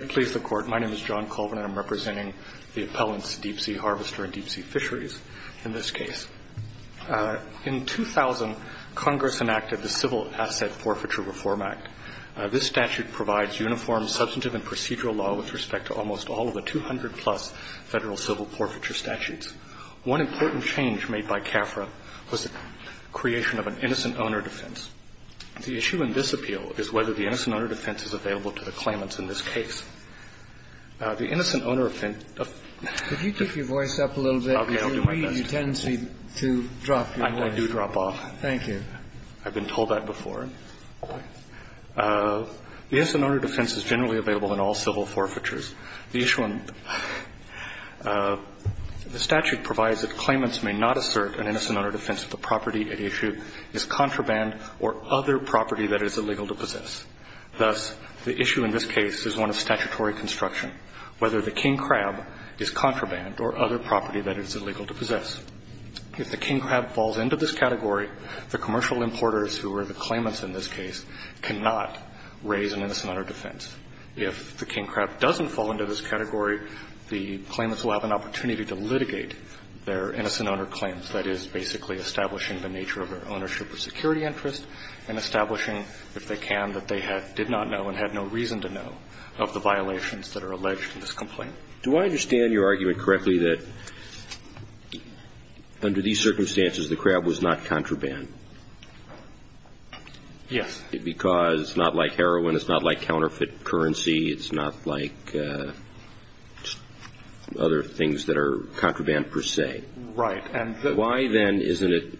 I'm representing the appellants Deep Sea Harvester and Deep Sea Fisheries in this case. In 2000, Congress enacted the Civil Asset Forfeiture Reform Act. This statute provides uniform substantive and procedural law with respect to almost all of the 200-plus federal civil forfeiture statutes. One important change made by CAFRA was the creation of an innocent owner defense. The issue in this appeal is whether the innocent owner defense is available to the claimants in this case. The innocent owner of the innocent owner defense is generally available in all civil forfeitures. The issue in the statute provides that claimants may not assert an innocent owner defense if the property at issue is contraband or other property that is illegal to possess. Thus, the issue in this case is one of statutory construction, whether the king crab is contraband or other property that is illegal to possess. If the king crab falls into this category, the commercial importers who are the claimants in this case cannot raise an innocent owner defense. If the king crab doesn't fall into this category, the claimants will have an opportunity to litigate their innocent owner claims. That is, basically establishing the nature of their ownership of security interest and establishing, if they can, that they did not know and had no reason to know of the violations that are alleged in this complaint. Do I understand your argument correctly that under these circumstances, the crab was not contraband? Yes. Because it's not like heroin, it's not like counterfeit currency, it's not like other things that are contraband per se? Right. Why, then, isn't it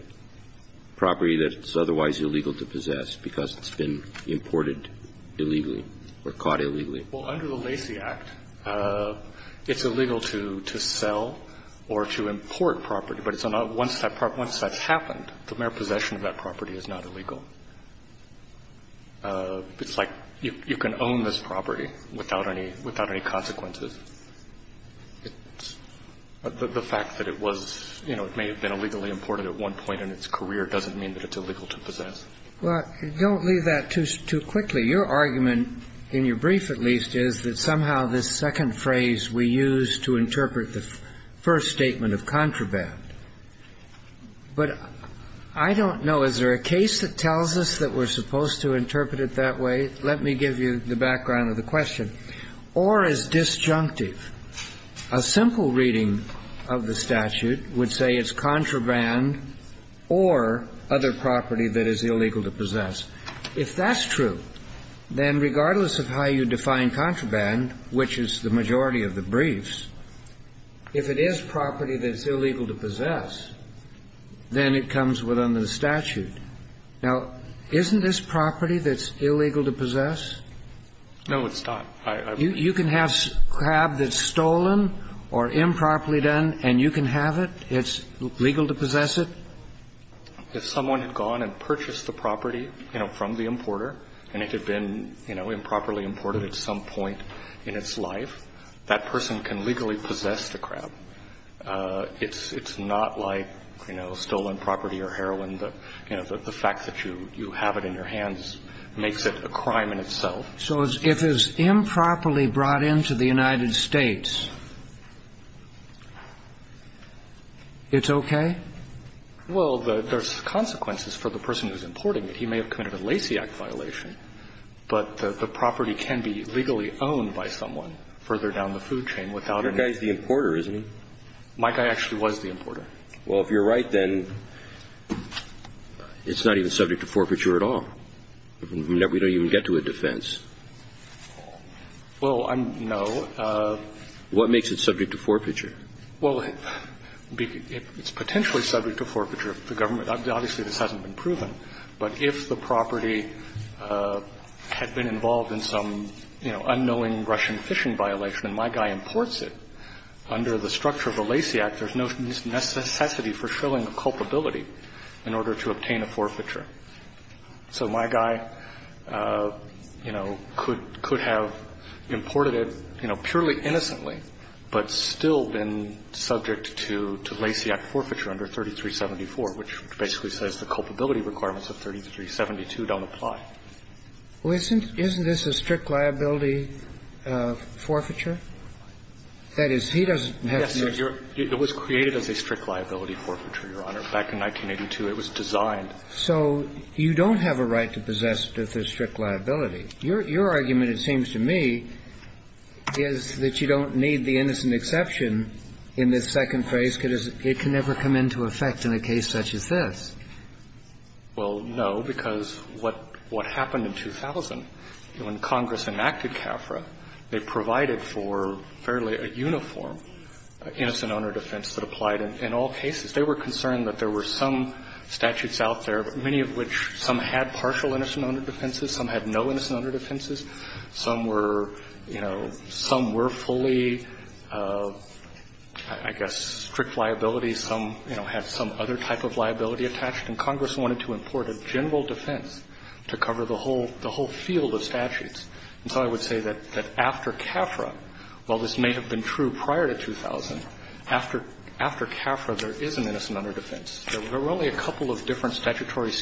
property that's otherwise illegal to possess because it's been imported illegally or caught illegally? Well, under the Lacey Act, it's illegal to sell or to import property. But once that happened, the mere possession of that property is not illegal. It's like you can own this property without any consequences. The fact that it was, you know, it may have been illegally imported at one point in its career doesn't mean that it's illegal to possess. Well, don't leave that too quickly. Your argument, in your brief at least, is that somehow this second phrase we use to But I don't know. Is there a case that tells us that we're supposed to interpret it that way? Let me give you the background of the question. Or as disjunctive, a simple reading of the statute would say it's contraband or other property that is illegal to possess. If that's true, then regardless of how you define contraband, which is the majority of the briefs, if it is property that's illegal to possess, then it comes within the statute. Now, isn't this property that's illegal to possess? No, it's not. You can have crab that's stolen or improperly done, and you can have it, it's legal to possess it? If someone had gone and purchased the property, you know, from the importer, and it had been, you know, improperly imported at some point in its life, that person can legally possess the crab. It's not like, you know, stolen property or heroin, you know, the fact that you have it in your hands makes it a crime in itself. So if it's improperly brought into the United States, it's okay? Well, there's consequences for the person who's importing it. He may have committed a Lacey Act violation, but the property can be legally owned by someone further down the food chain without an importer. Your guy's the importer, isn't he? My guy actually was the importer. Well, if you're right, then it's not even subject to forfeiture at all. We don't even get to a defense. Well, I'm no. What makes it subject to forfeiture? Well, it's potentially subject to forfeiture. The government – obviously, this hasn't been proven, but if the property had been involved in some, you know, unknowing Russian fishing violation and my guy imports it, under the structure of the Lacey Act, there's no necessity for shilling a culpability in order to obtain a forfeiture. So my guy, you know, could have imported it, you know, purely innocently, but still been subject to Lacey Act forfeiture under 3374, which basically says the culpability requirements of 3372 don't apply. Well, isn't this a strict liability forfeiture? That is, he doesn't have to use it. Yes, sir. It was created as a strict liability forfeiture, Your Honor. Back in 1982, it was designed. So you don't have a right to possess this as strict liability. Your argument, it seems to me, is that you don't need the innocent exception in this second phase because it can never come into effect in a case such as this. Well, no, because what happened in 2000, when Congress enacted CAFRA, they provided for fairly a uniform innocent owner defense that applied in all cases. They were concerned that there were some statutes out there, many of which, some had partial innocent owner defenses, some had no innocent owner defenses. Some were, you know, some were fully, I guess, strict liability. Some, you know, had some other type of liability attached. And Congress wanted to import a general defense to cover the whole field of statutes. And so I would say that after CAFRA, while this may have been true prior to 2000, after CAFRA, there is an innocent owner defense. There were only a couple of different statutory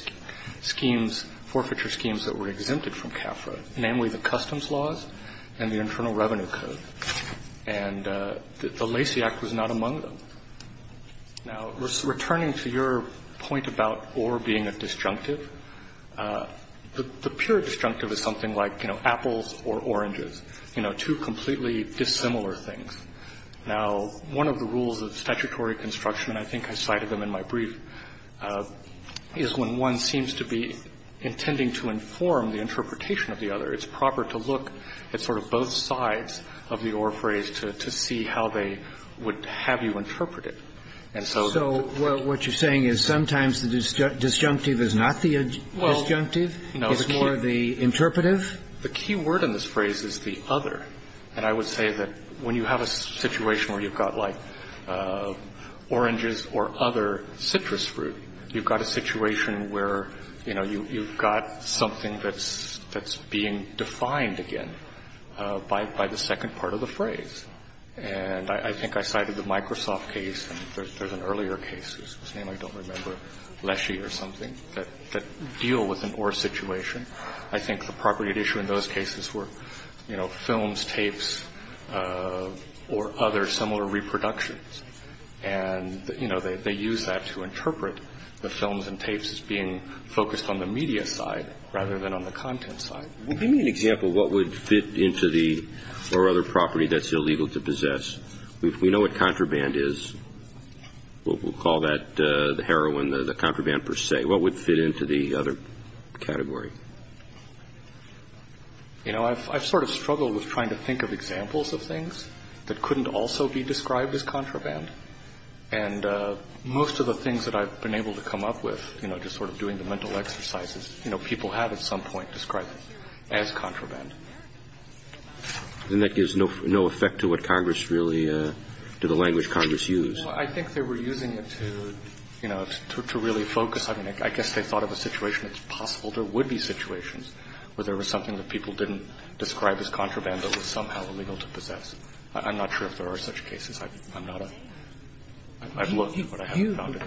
schemes, forfeiture schemes that were exempted from CAFRA, namely the Customs Laws and the Internal Revenue Code. And the Lacey Act was not among them. Now, returning to your point about Ore being a disjunctive, the pure disjunctive is something like, you know, apples or oranges, you know, two completely dissimilar things. Now, one of the rules of statutory construction, and I think I cited them in my brief, is when one seems to be intending to inform the interpretation of the other, it's proper to look at sort of both sides of the Ore phrase to see how they would have you interpret it. And so the key word in this phrase is the other. And I would say that when you have a situation where you've got, like, oranges or other citrus fruit, you've got a situation where, you know, you've got something that's being defined again by the second part of the phrase. And I think I cited the Microsoft case, and there's an earlier case whose name I don't remember, Lacey or something, that deal with an Ore situation. I think the property at issue in those cases were, you know, films, tapes, or other similar reproductions. And, you know, they use that to interpret the films and tapes as being focused on the media side rather than on the content side. Give me an example of what would fit into the Ore other property that's illegal to possess. We know what contraband is. We'll call that the heroin, the contraband per se. What would fit into the other category? You know, I've sort of struggled with trying to think of examples of things that couldn't also be described as contraband. And most of the things that I've been able to come up with, you know, just sort of doing the mental exercises, you know, people have at some point described it as contraband. Then that gives no effect to what Congress really do, the language Congress uses. Well, I think they were using it to, you know, to really focus. I mean, I guess they thought of a situation, it's possible there would be situations where there was something that people didn't describe as contraband that was somehow illegal to possess. I'm not sure if there are such cases. I'm not a – I've looked, but I haven't found it.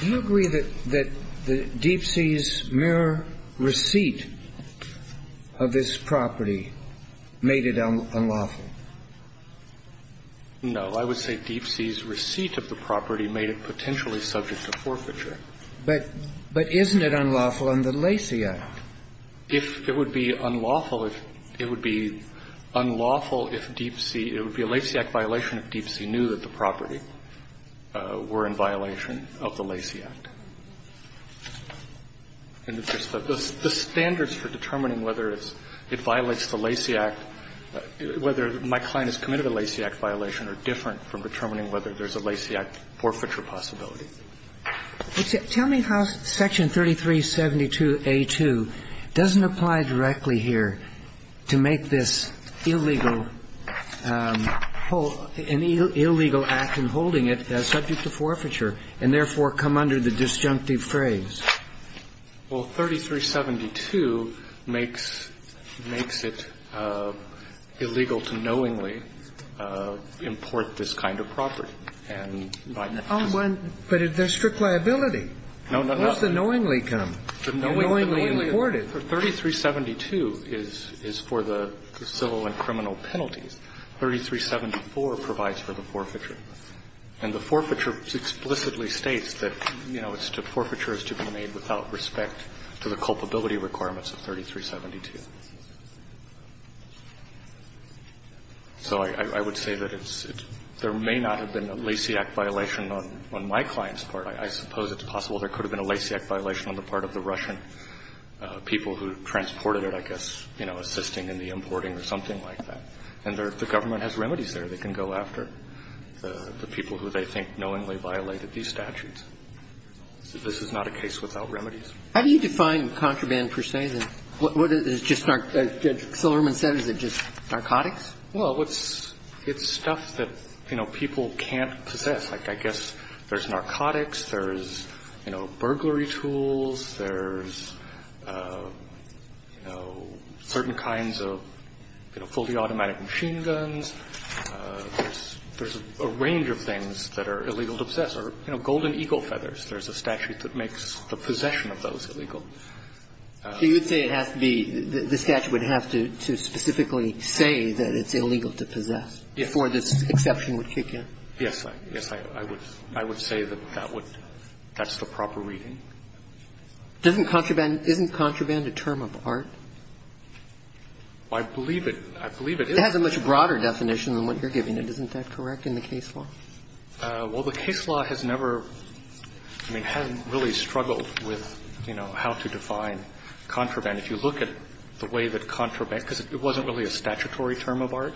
Do you agree that Deepsea's mere receipt of this property made it unlawful? No. I would say Deepsea's receipt of the property made it potentially subject to forfeiture. But isn't it unlawful under Lacey Act? If it would be unlawful if – it would be unlawful if Deepsea – it would be a Lacey Act violation if Deepsea knew that the property were in violation of the Lacey Act. And the standards for determining whether it's – it violates the Lacey Act, whether my client has committed a Lacey Act violation are different from determining whether there's a Lacey Act forfeiture possibility. Tell me how Section 3372a2 doesn't apply directly here to make this illegal – an illegal act and holding it subject to forfeiture and therefore come under the disjunctive phrase. Well, 3372 makes – makes it illegal to knowingly import this kind of property. And by necessity. But there's strict liability. No, no, no. Where does the knowingly come? The knowingly imported. 3372 is for the civil and criminal penalties. 3374 provides for the forfeiture. And the forfeiture explicitly states that, you know, forfeiture is to be made without respect to the culpability requirements of 3372. So I would say that it's – there may not have been a Lacey Act violation on my client's part. I suppose it's possible there could have been a Lacey Act violation on the part of the Russian people who transported it, I guess, you know, assisting in the importing or something like that. And the government has remedies there they can go after. The people who they think knowingly violated these statutes. This is not a case without remedies. How do you define contraband, per se? Is it just narcotics? Well, it's stuff that, you know, people can't possess. I guess there's narcotics, there's, you know, burglary tools, there's, you know, certain kinds of, you know, fully automatic machine guns. There's a range of things that are illegal to possess. Or, you know, golden eagle feathers. There's a statute that makes the possession of those illegal. So you would say it has to be – the statute would have to specifically say that it's illegal to possess before this exception would kick in? Yes. Yes, I would say that that would – that's the proper reading. Doesn't contraband – isn't contraband a term of art? I believe it – I believe it is. It has a much broader definition than what you're giving it. Isn't that correct in the case law? Well, the case law has never – I mean, hasn't really struggled with, you know, how to define contraband. If you look at the way that contraband – because it wasn't really a statutory term of art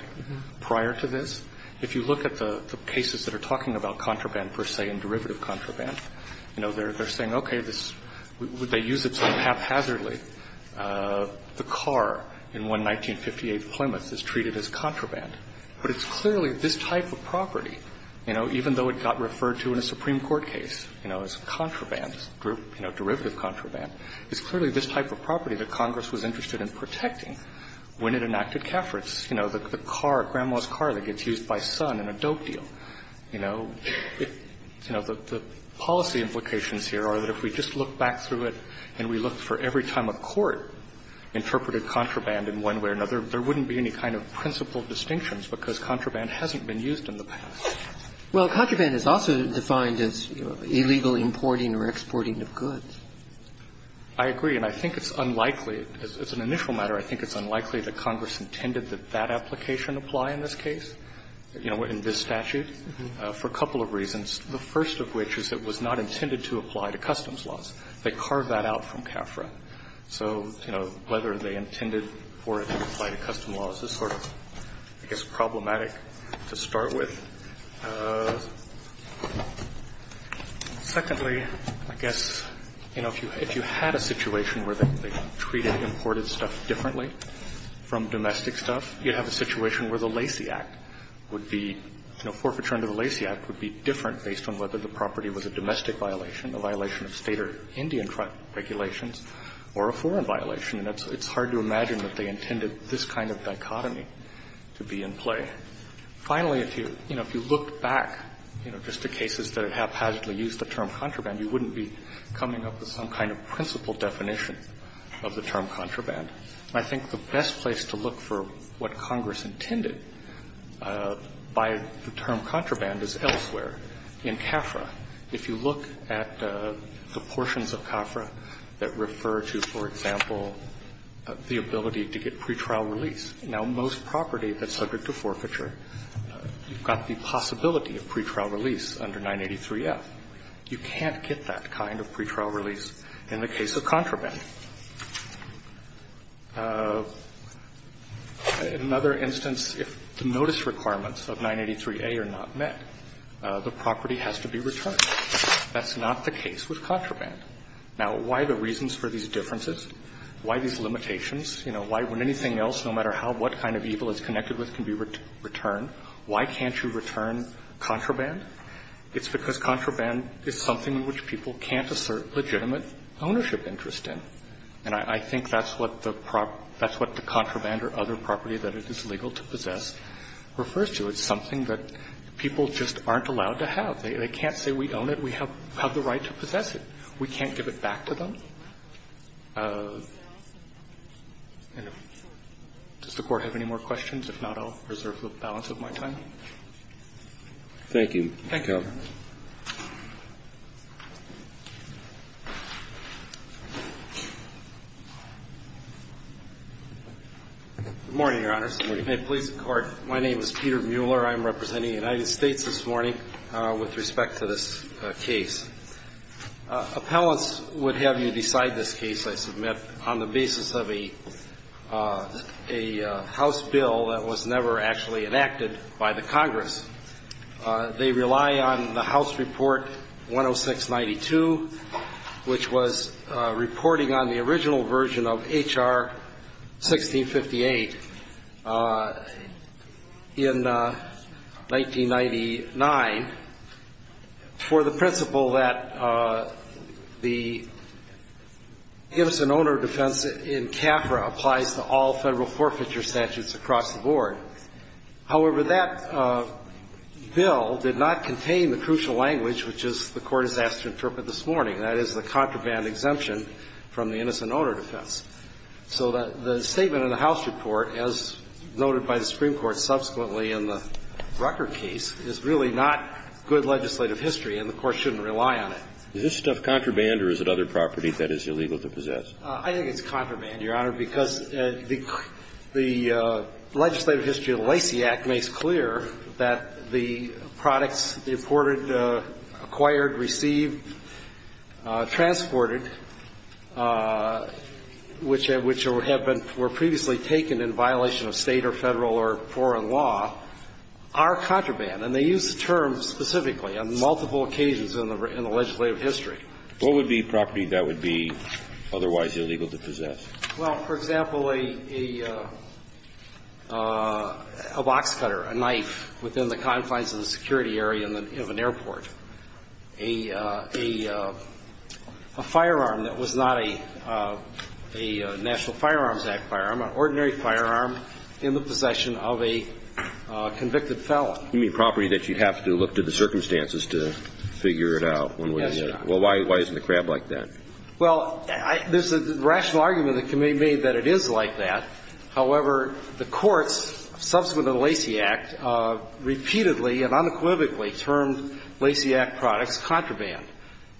prior to this. If you look at the cases that are talking about contraband, per se, and derivative contraband, you know, they're saying, okay, this – they use it sort of haphazardly. The car in one 1958 Plymouth is treated as contraband. But it's clearly this type of property, you know, even though it got referred to in a Supreme Court case, you know, as contraband, you know, derivative contraband, it's clearly this type of property that Congress was interested in protecting when it enacted Kafferitz. You know, the car, Grandma's car that gets used by Sun in a dope deal. You know, the policy implications here are that if we just look back through it and we look for every time a court interpreted contraband in one way or another, there wouldn't be any kind of principled distinctions because contraband hasn't been used in the past. Well, contraband is also defined as illegal importing or exporting of goods. I agree. And I think it's unlikely – as an initial matter, I think it's unlikely that Congress intended that that application apply in this case, you know, in this statute, for a couple of reasons. The first of which is it was not intended to apply to customs laws. They carved that out from CAFRA. So, you know, whether they intended for it to apply to customs laws is sort of, I guess, problematic to start with. Secondly, I guess, you know, if you had a situation where they treated imported stuff differently from domestic stuff, you'd have a situation where the Lacey Act would be, you know, forfeiture under the Lacey Act would be different based on whether the property was a domestic violation, a violation of State or Indian regulations, or a foreign violation. And it's hard to imagine that they intended this kind of dichotomy to be in play. Finally, if you, you know, if you looked back, you know, just to cases that haphazardly used the term contraband, you wouldn't be coming up with some kind of principle definition of the term contraband. I think the best place to look for what Congress intended by the term contraband is elsewhere in CAFRA. If you look at the portions of CAFRA that refer to, for example, the ability to get pretrial release, now, most property that's subject to forfeiture, you've got the possibility of pretrial release under 983F. You can't get that kind of pretrial release in the case of contraband. In another instance, if the notice requirements of 983A are not met, the property has to be returned. That's not the case with contraband. Now, why the reasons for these differences? Why these limitations? You know, why, when anything else, no matter how, what kind of evil it's connected with, can be returned. Why can't you return contraband? It's because contraband is something in which people can't assert legitimate ownership interest in. And I think that's what the contraband or other property that it is legal to possess refers to. It's something that people just aren't allowed to have. They can't say we own it, we have the right to possess it. We can't give it back to them. And does the Court have any more questions? If not, I'll reserve the balance of my time. Thank you. Thank you, Your Honor. Good morning, Your Honors. Good morning. May it please the Court, my name is Peter Mueller. I'm representing the United States this morning with respect to this case. Appellants would have you decide this case, I submit, on the basis of a House bill that was never actually enacted by the Congress. They rely on the House Report 10692, which was reporting on the original version of H.R. 1658 in 1999, for the principle that the original version of H.R. 1658 was that the innocent owner defense in CAFRA applies to all Federal forfeiture statutes across the board. However, that bill did not contain the crucial language which the Court has asked to interpret this morning, that is, the contraband exemption from the innocent owner defense. So the statement in the House Report, as noted by the Supreme Court subsequently in the Rucker case, is really not good legislative history and the Court shouldn't rely on it. Is this stuff contraband or is it other property that is illegal to possess? I think it's contraband, Your Honor, because the legislative history of the Lacey Act makes clear that the products imported, acquired, received, transported, which have been or were previously taken in violation of State or Federal or foreign law, are contraband. And they use the term specifically on multiple occasions in the legislative history. What would be property that would be otherwise illegal to possess? Well, for example, a box cutter, a knife within the confines of the security area of an airport. A firearm that was not a National Firearms Act firearm, an ordinary firearm in the possession of a convicted felon. You mean property that you'd have to look to the circumstances to figure it out one way or the other? Yes, Your Honor. Well, why isn't the CRAB like that? Well, there's a rational argument that can be made that it is like that. However, the courts, subsequent to the Lacey Act, repeatedly and unequivocally termed Lacey Act products contraband.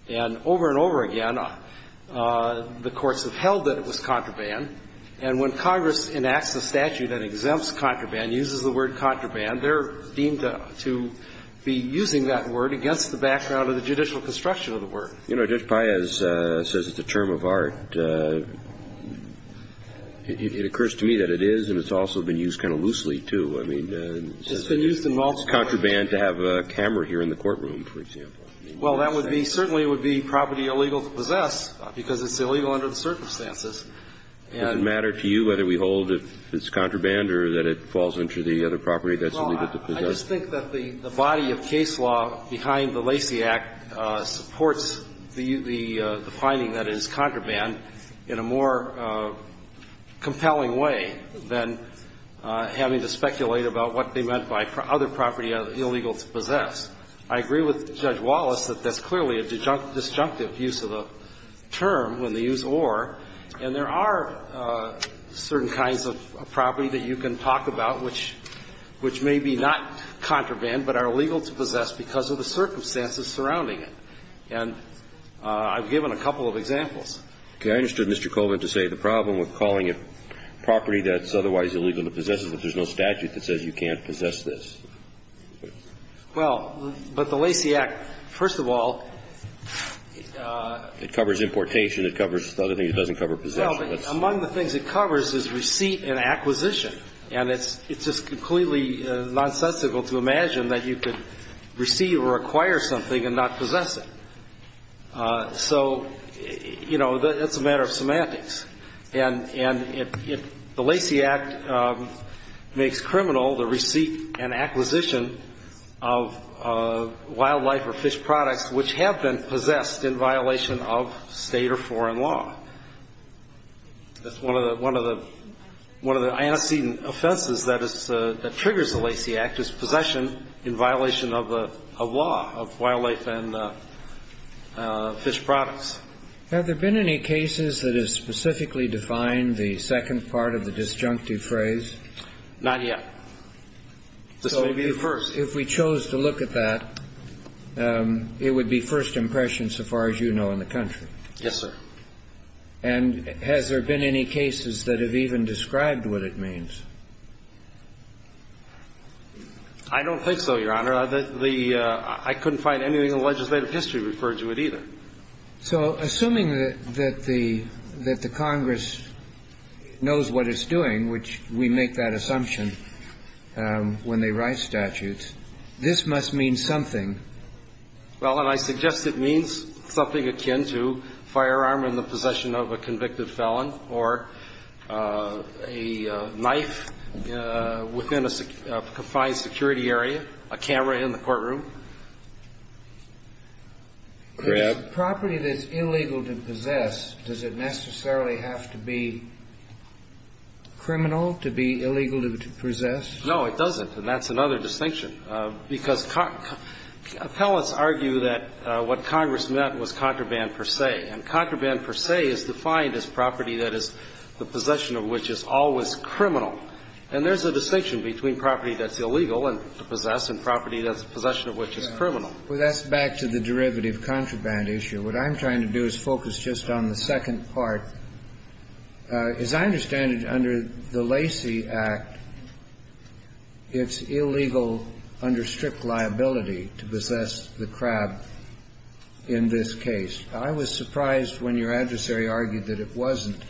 And over and over again, the courts have held that it was contraband. And when Congress enacts a statute that exempts contraband, uses the word contraband, they're deemed to be using that word against the background of the judicial construction of the word. You know, Judge Paez says it's a term of art. It occurs to me that it is, and it's also been used kind of loosely, too. I mean, it's contraband to have a camera here in the courtroom, for example. Well, that would be certainly would be property illegal to possess because it's illegal under the circumstances. Does it matter to you whether we hold it's contraband or that it falls into the other property that's illegal to possess? Well, I just think that the body of case law behind the Lacey Act supports the finding that it is contraband in a more compelling way than having to speculate about what they meant by other property illegal to possess. I agree with Judge Wallace that that's clearly a disjunctive use of the term when they use or. And there are certain kinds of property that you can talk about which may be not contraband but are illegal to possess because of the circumstances surrounding And I've given a couple of examples. Okay. I understood Mr. Coleman to say the problem with calling a property that's otherwise illegal to possess is that there's no statute that says you can't possess this. Well, but the Lacey Act, first of all. It covers importation. It covers other things. It doesn't cover possession. Well, among the things it covers is receipt and acquisition. And it's just completely nonsensical to imagine that you could receive or acquire something and not possess it. So, you know, that's a matter of semantics. And the Lacey Act makes criminal the receipt and acquisition of wildlife or fish products which have been possessed in violation of state or foreign law. One of the antecedent offenses that triggers the Lacey Act is possession in violation of a law of wildlife and fish products. Have there been any cases that have specifically defined the second part of the disjunctive phrase? Not yet. This may be the first. So if we chose to look at that, it would be first impression so far as you know in the country. Yes, sir. And has there been any cases that have even described what it means? I don't think so, Your Honor. I couldn't find anything in legislative history referring to it either. So assuming that the Congress knows what it's doing, which we make that assumption when they write statutes, this must mean something. Well, and I suggest it means something akin to firearm in the possession of a convicted felon or a knife within a confined security area, a camera in the courtroom. If it's a property that's illegal to possess, does it necessarily have to be criminal to be illegal to possess? No, it doesn't. And that's another distinction. Because appellants argue that what Congress meant was contraband per se. And contraband per se is defined as property that is the possession of which is always criminal. And there's a distinction between property that's illegal to possess and property that's possession of which is criminal. Well, that's back to the derivative contraband issue. What I'm trying to do is focus just on the second part. As I understand it, under the Lacey Act, it's illegal under strict liability to possess the crab in this case. I was surprised when your adversary argued that it wasn't.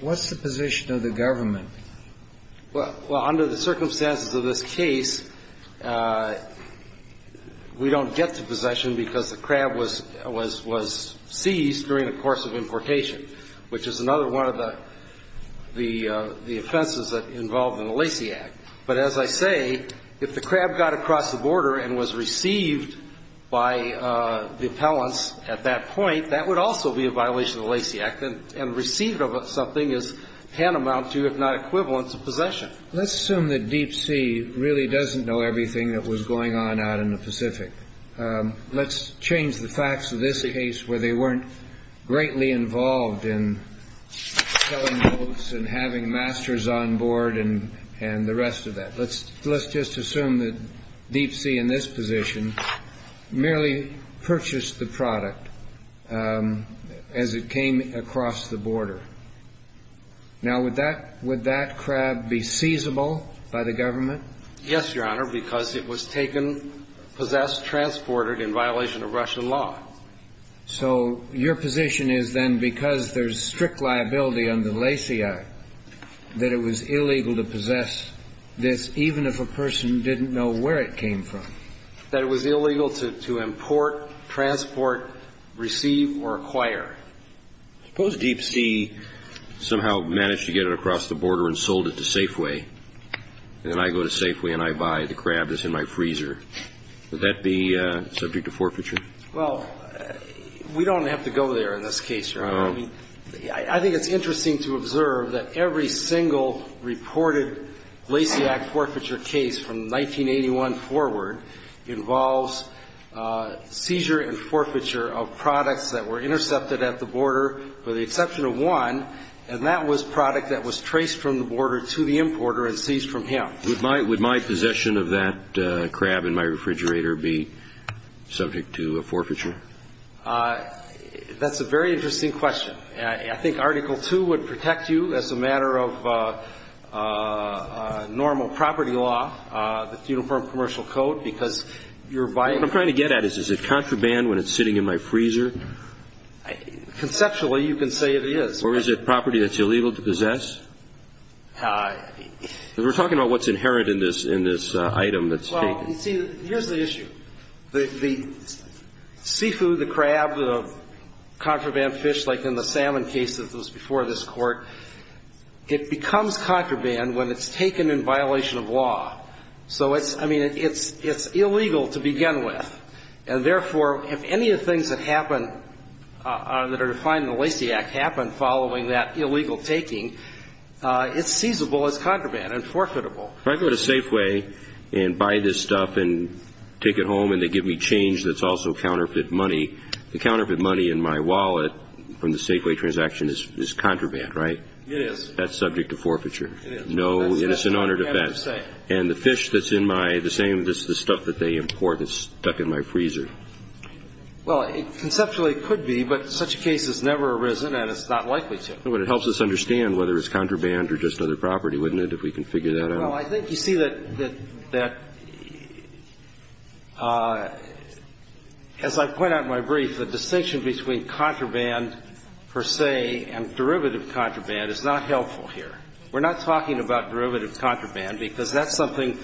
What's the position of the government? Well, under the circumstances of this case, we don't get to possession because the crab was seized during the course of importation, which is another one of the offenses involved in the Lacey Act. But as I say, if the crab got across the border and was received by the appellants at that point, that would also be a violation of the Lacey Act. And receiving something is tantamount to, if not equivalent, to possession. Let's assume that Deep Sea really doesn't know everything that was going on out in the Pacific. Let's change the facts of this case where they weren't greatly involved in selling boats and having masters on board and the rest of that. Let's just assume that Deep Sea in this position merely purchased the product as it came across the border. Now, would that crab be seizable by the government? Yes, Your Honor, because it was taken, possessed, transported in violation of Russian law. So your position is then, because there's strict liability under the Lacey Act, that it was illegal to possess this even if a person didn't know where it came from? That it was illegal to import, transport, receive, or acquire. Suppose Deep Sea somehow managed to get it across the border and sold it to Safeway, and then I go to Safeway and I buy the crab that's in my freezer. Would that be subject to forfeiture? Well, we don't have to go there in this case, Your Honor. I think it's interesting to observe that every single reported Lacey Act forfeiture case from 1981 forward involves seizure and forfeiture of products that were intercepted at the border for the exception of one, and that was product that was traced from the border to the importer and seized from him. Would my possession of that crab in my refrigerator be subject to a forfeiture? That's a very interesting question. I think Article 2 would protect you as a matter of normal property law, the Uniform Commercial Code, because you're buying it. What I'm trying to get at is, is it contraband when it's sitting in my freezer? Conceptually, you can say it is. Or is it property that's illegal to possess? We're talking about what's inherent in this item that's taken. Well, you see, here's the issue. The seafood, the crab, the contraband fish like in the salmon case that was before this Court, it becomes contraband when it's taken in violation of law. So it's, I mean, it's illegal to begin with. And therefore, if any of the things that happen that are defined in the Lacey Act happen following that illegal taking, it's seizable as contraband and forfeitable. If I go to Safeway and buy this stuff and take it home and they give me change that's also counterfeit money, the counterfeit money in my wallet from the Safeway transaction is contraband, right? It is. That's subject to forfeiture. It is. No, it's an honored offense. And the fish that's in my, the same as the stuff that they import that's stuck in my freezer. Well, conceptually it could be, but such a case has never arisen and it's not likely to. But it helps us understand whether it's contraband or just another property, wouldn't it, if we can figure that out? Well, I think you see that, as I point out in my brief, the distinction between contraband per se and derivative contraband is not helpful here. We're not talking about derivative contraband because that's something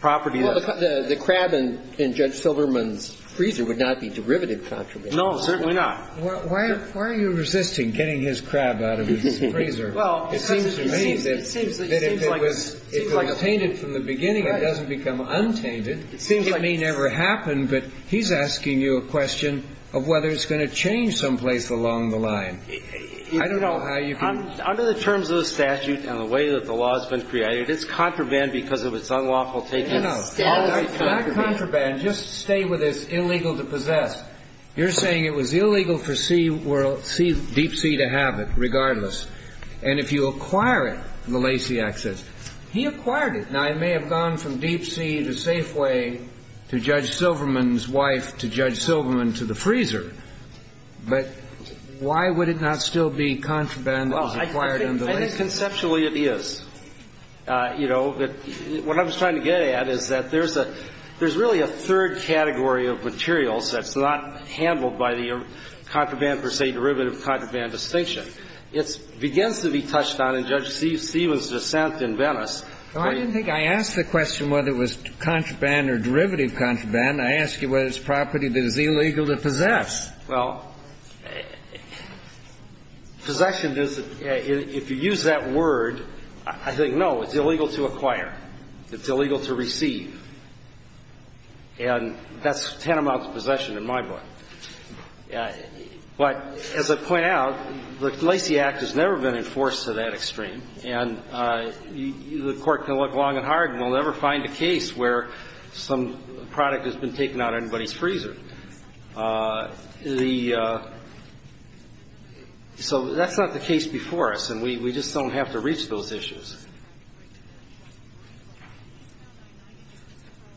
property that's not helpful. The crab in Judge Silverman's freezer would not be derivative contraband. No, certainly not. Why are you resisting getting his crab out of his freezer? It seems to me that if it was tainted from the beginning, it doesn't become untainted. It may never happen, but he's asking you a question of whether it's going to change someplace along the line. I don't know how you can. Under the terms of the statute and the way that the law has been created, it's contraband because of its unlawful taking out. No, no. That contraband, just stay with this illegal to possess. You're saying it was illegal for Deep Sea to have it regardless. And if you acquire it, the Lasiak says, he acquired it. Now, it may have gone from Deep Sea to Safeway to Judge Silverman's wife to Judge Silverman to the freezer, but why would it not still be contraband that was acquired under Lasiak? Well, I think conceptually it is. You know, what I'm trying to get at is that there's really a third category of materials that's not handled by the contraband per se, derivative contraband distinction. It begins to be touched on in Judge Stevens' dissent in Venice. I didn't think I asked the question whether it was contraband or derivative contraband. I asked you whether it's property that is illegal to possess. Well, possession, if you use that word, I think, no, it's illegal to acquire. It's illegal to receive. And that's ten amounts of possession in my book. But as I point out, the Lasiak has never been enforced to that extreme, and the Court can look long and hard and will never find a case where some product has been taken out of anybody's freezer. The – so that's not the case before us, and we just don't have to reach those issues.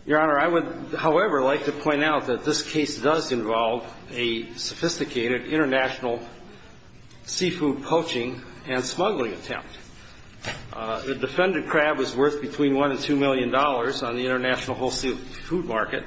Your Honor, I would, however, like to point out that this case does involve a sophisticated international seafood poaching and smuggling attempt. The defendant crab was worth between $1 and $2 million on the international wholesale food market.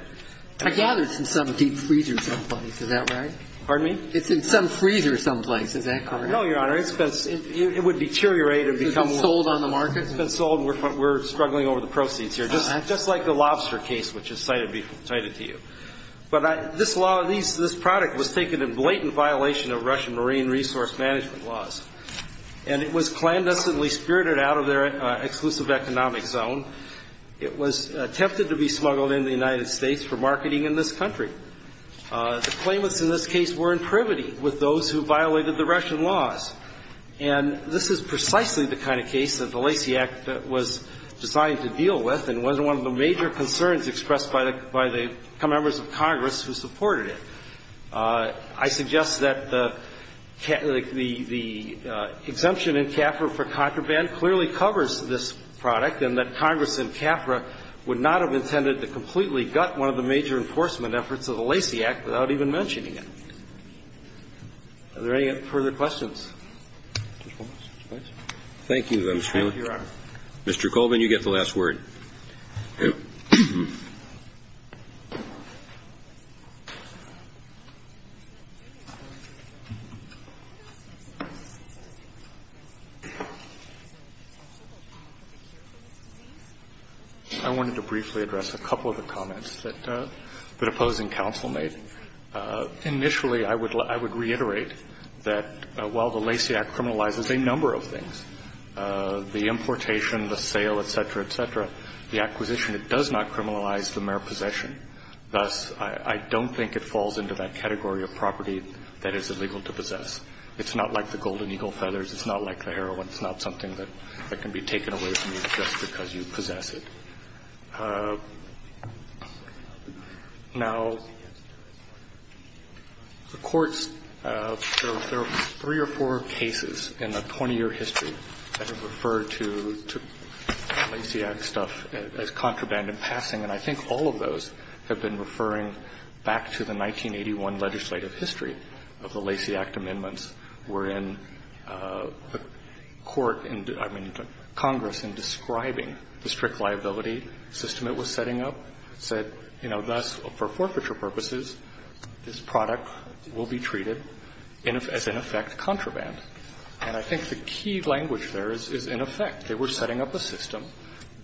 I gather it's in some deep freezer someplace. Is that right? Pardon me? It's in some freezer someplace. Is that correct? No, Your Honor. It's been – it would deteriorate and become – It's been sold on the market? It's been sold. We're struggling over the proceeds here, just like the lobster case, which is cited to you. But this law – this product was taken in blatant violation of Russian marine resource management laws. And it was clandestinely spirited out of their exclusive economic zone. It was attempted to be smuggled into the United States for marketing in this country. The claimants in this case were in privity with those who violated the Russian laws. And this is precisely the kind of case that the Lacey Act was designed to deal with and was one of the major concerns expressed by the members of Congress who supported it. I suggest that the exemption in CAFRA for contraband clearly covers this product and that Congress in CAFRA would not have intended to completely gut one of the major enforcement efforts of the Lacey Act without even mentioning it. Are there any further questions? Thank you, Mr. Feiler. Thank you, Your Honor. Mr. Colvin, you get the last word. Thank you. I wanted to briefly address a couple of the comments that opposing counsel made. Initially, I would reiterate that while the Lacey Act criminalizes a number of things, the importation, the sale, et cetera, et cetera, the acquisition, it does not criminalize the mere possession. Thus, I don't think it falls into that category of property that is illegal to possess. It's not like the Golden Eagle feathers. It's not like the heroin. It's not something that can be taken away from you just because you possess it. Now, the courts, there are three or four cases in the 20-year history that have referred to Lacey Act stuff as contraband in passing, and I think all of those have been referring back to the 1981 legislative history of the Lacey Act amendments where the court, I mean, Congress in describing the strict liability system it was setting up said, you know, thus, for forfeiture purposes, this product will be treated as in effect contraband. And I think the key language there is in effect. They were setting up a system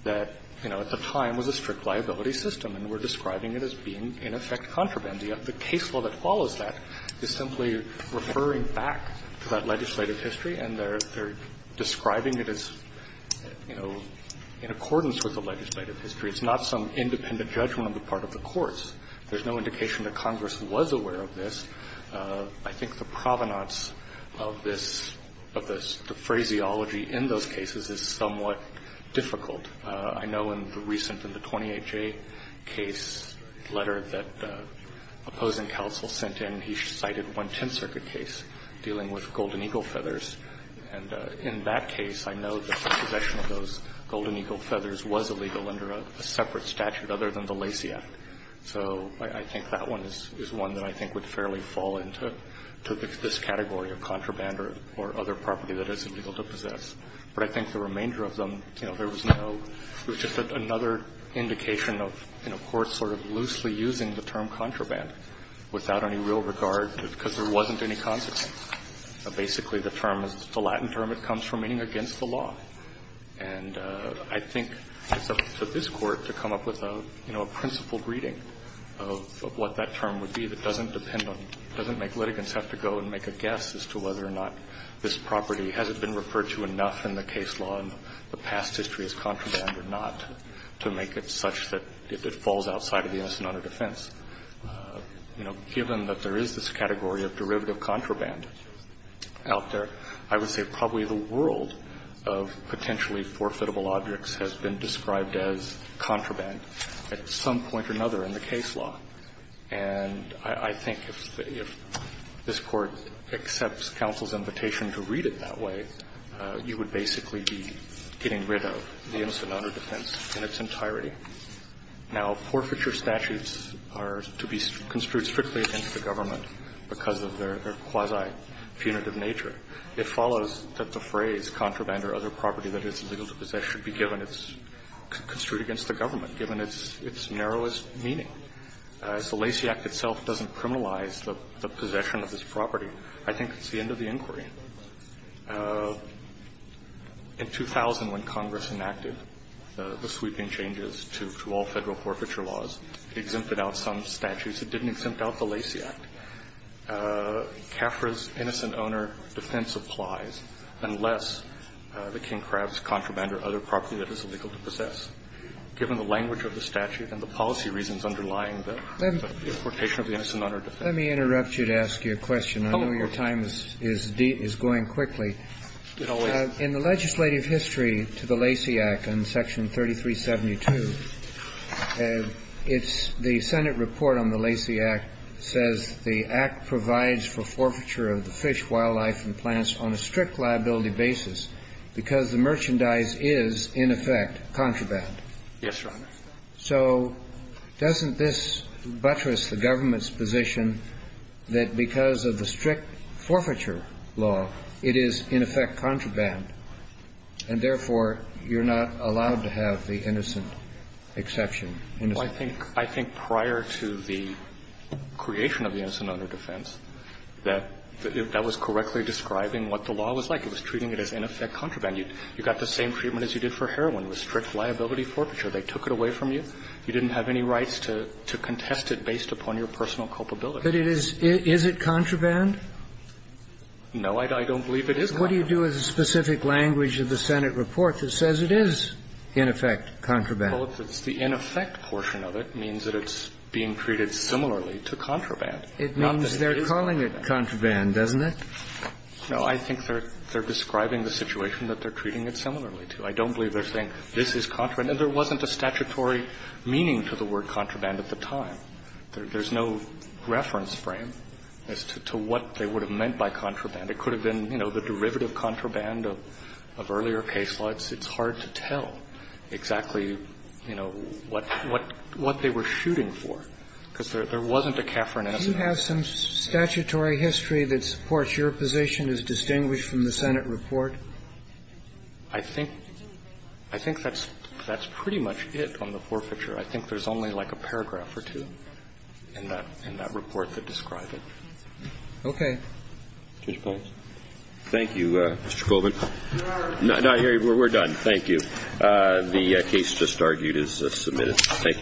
that, you know, at the time was a strict liability system, and we're describing it as being in effect contraband. And yet the case law that follows that is simply referring back to that legislative history, and they're describing it as, you know, in accordance with the legislative history. It's not some independent judgment on the part of the courts. There's no indication that Congress was aware of this. I think the provenance of this, of the phraseology in those cases is somewhat difficult. And I know in the recent, in the 28J case letter that opposing counsel sent in, he cited one Tenth Circuit case dealing with Golden Eagle feathers. And in that case, I know that the possession of those Golden Eagle feathers was illegal under a separate statute other than the Lacey Act. So I think that one is one that I think would fairly fall into this category But I think the remainder of them, you know, there was no, it was just another indication of, you know, courts sort of loosely using the term contraband without any real regard, because there wasn't any consequence. Basically, the term, the Latin term, it comes from meaning against the law. And I think it's up to this Court to come up with a, you know, a principled reading of what that term would be that doesn't depend on, doesn't make litigants have to go and make a guess as to whether or not this property hasn't been referred to enough in the case law in the past history as contraband or not to make it such that if it falls outside of the innocent under defense, you know, given that there is this category of derivative contraband out there, I would say probably the world of potentially forfeitable objects has been described as contraband at some point or another in the case law. And I think if this Court accepts counsel's invitation to read it that way, you would basically be getting rid of the innocent under defense in its entirety. Now, forfeiture statutes are to be construed strictly against the government because of their quasi-punitive nature. It follows that the phrase contraband or other property that it's illegal to possess should be given its – construed against the government, given its narrowest meaning. If the Lacey Act itself doesn't criminalize the possession of this property, I think it's the end of the inquiry. In 2000, when Congress enacted the sweeping changes to all Federal forfeiture laws, it exempted out some statutes. It didn't exempt out the Lacey Act. CAFRA's innocent owner defense applies unless the King Crabs contraband or other property that it's illegal to possess, given the language of the statute and the policy reasons underlying the quotation of the innocent owner defense. Let me interrupt you to ask you a question. I know your time is going quickly. In the legislative history to the Lacey Act on Section 3372, it's the Senate report on the Lacey Act says the Act provides for forfeiture of the fish, wildlife, and plants on a strict liability basis because the merchandise is, in effect, contraband. Yes, Your Honor. So doesn't this buttress the government's position that because of the strict forfeiture law, it is, in effect, contraband, and therefore, you're not allowed to have the innocent exception? Well, I think – I think prior to the creation of the innocent owner defense, that was correctly describing what the law was like. It was treating it as, in effect, contraband. You got the same treatment as you did for heroin with strict liability forfeiture. They took it away from you. You didn't have any rights to contest it based upon your personal culpability. But it is – is it contraband? No, I don't believe it is contraband. What do you do with the specific language of the Senate report that says it is, in effect, contraband? Well, if it's the in effect portion of it, it means that it's being treated similarly to contraband. It means they're calling it contraband, doesn't it? No. I think they're describing the situation that they're treating it similarly to. I don't believe they're saying this is contraband. And there wasn't a statutory meaning to the word contraband at the time. There's no reference frame as to what they would have meant by contraband. It could have been, you know, the derivative contraband of earlier case laws. It's hard to tell exactly, you know, what they were shooting for, because there The question is, does the Senate report have some statutory history that supports your position as distinguished from the Senate report? I think – I think that's pretty much it on the forfeiture. I think there's only like a paragraph or two in that report that describes it. Okay. Judge Pines? Thank you, Mr. Colvin. We're done. Thank you. The case just argued is submitted. Thank you, gentlemen.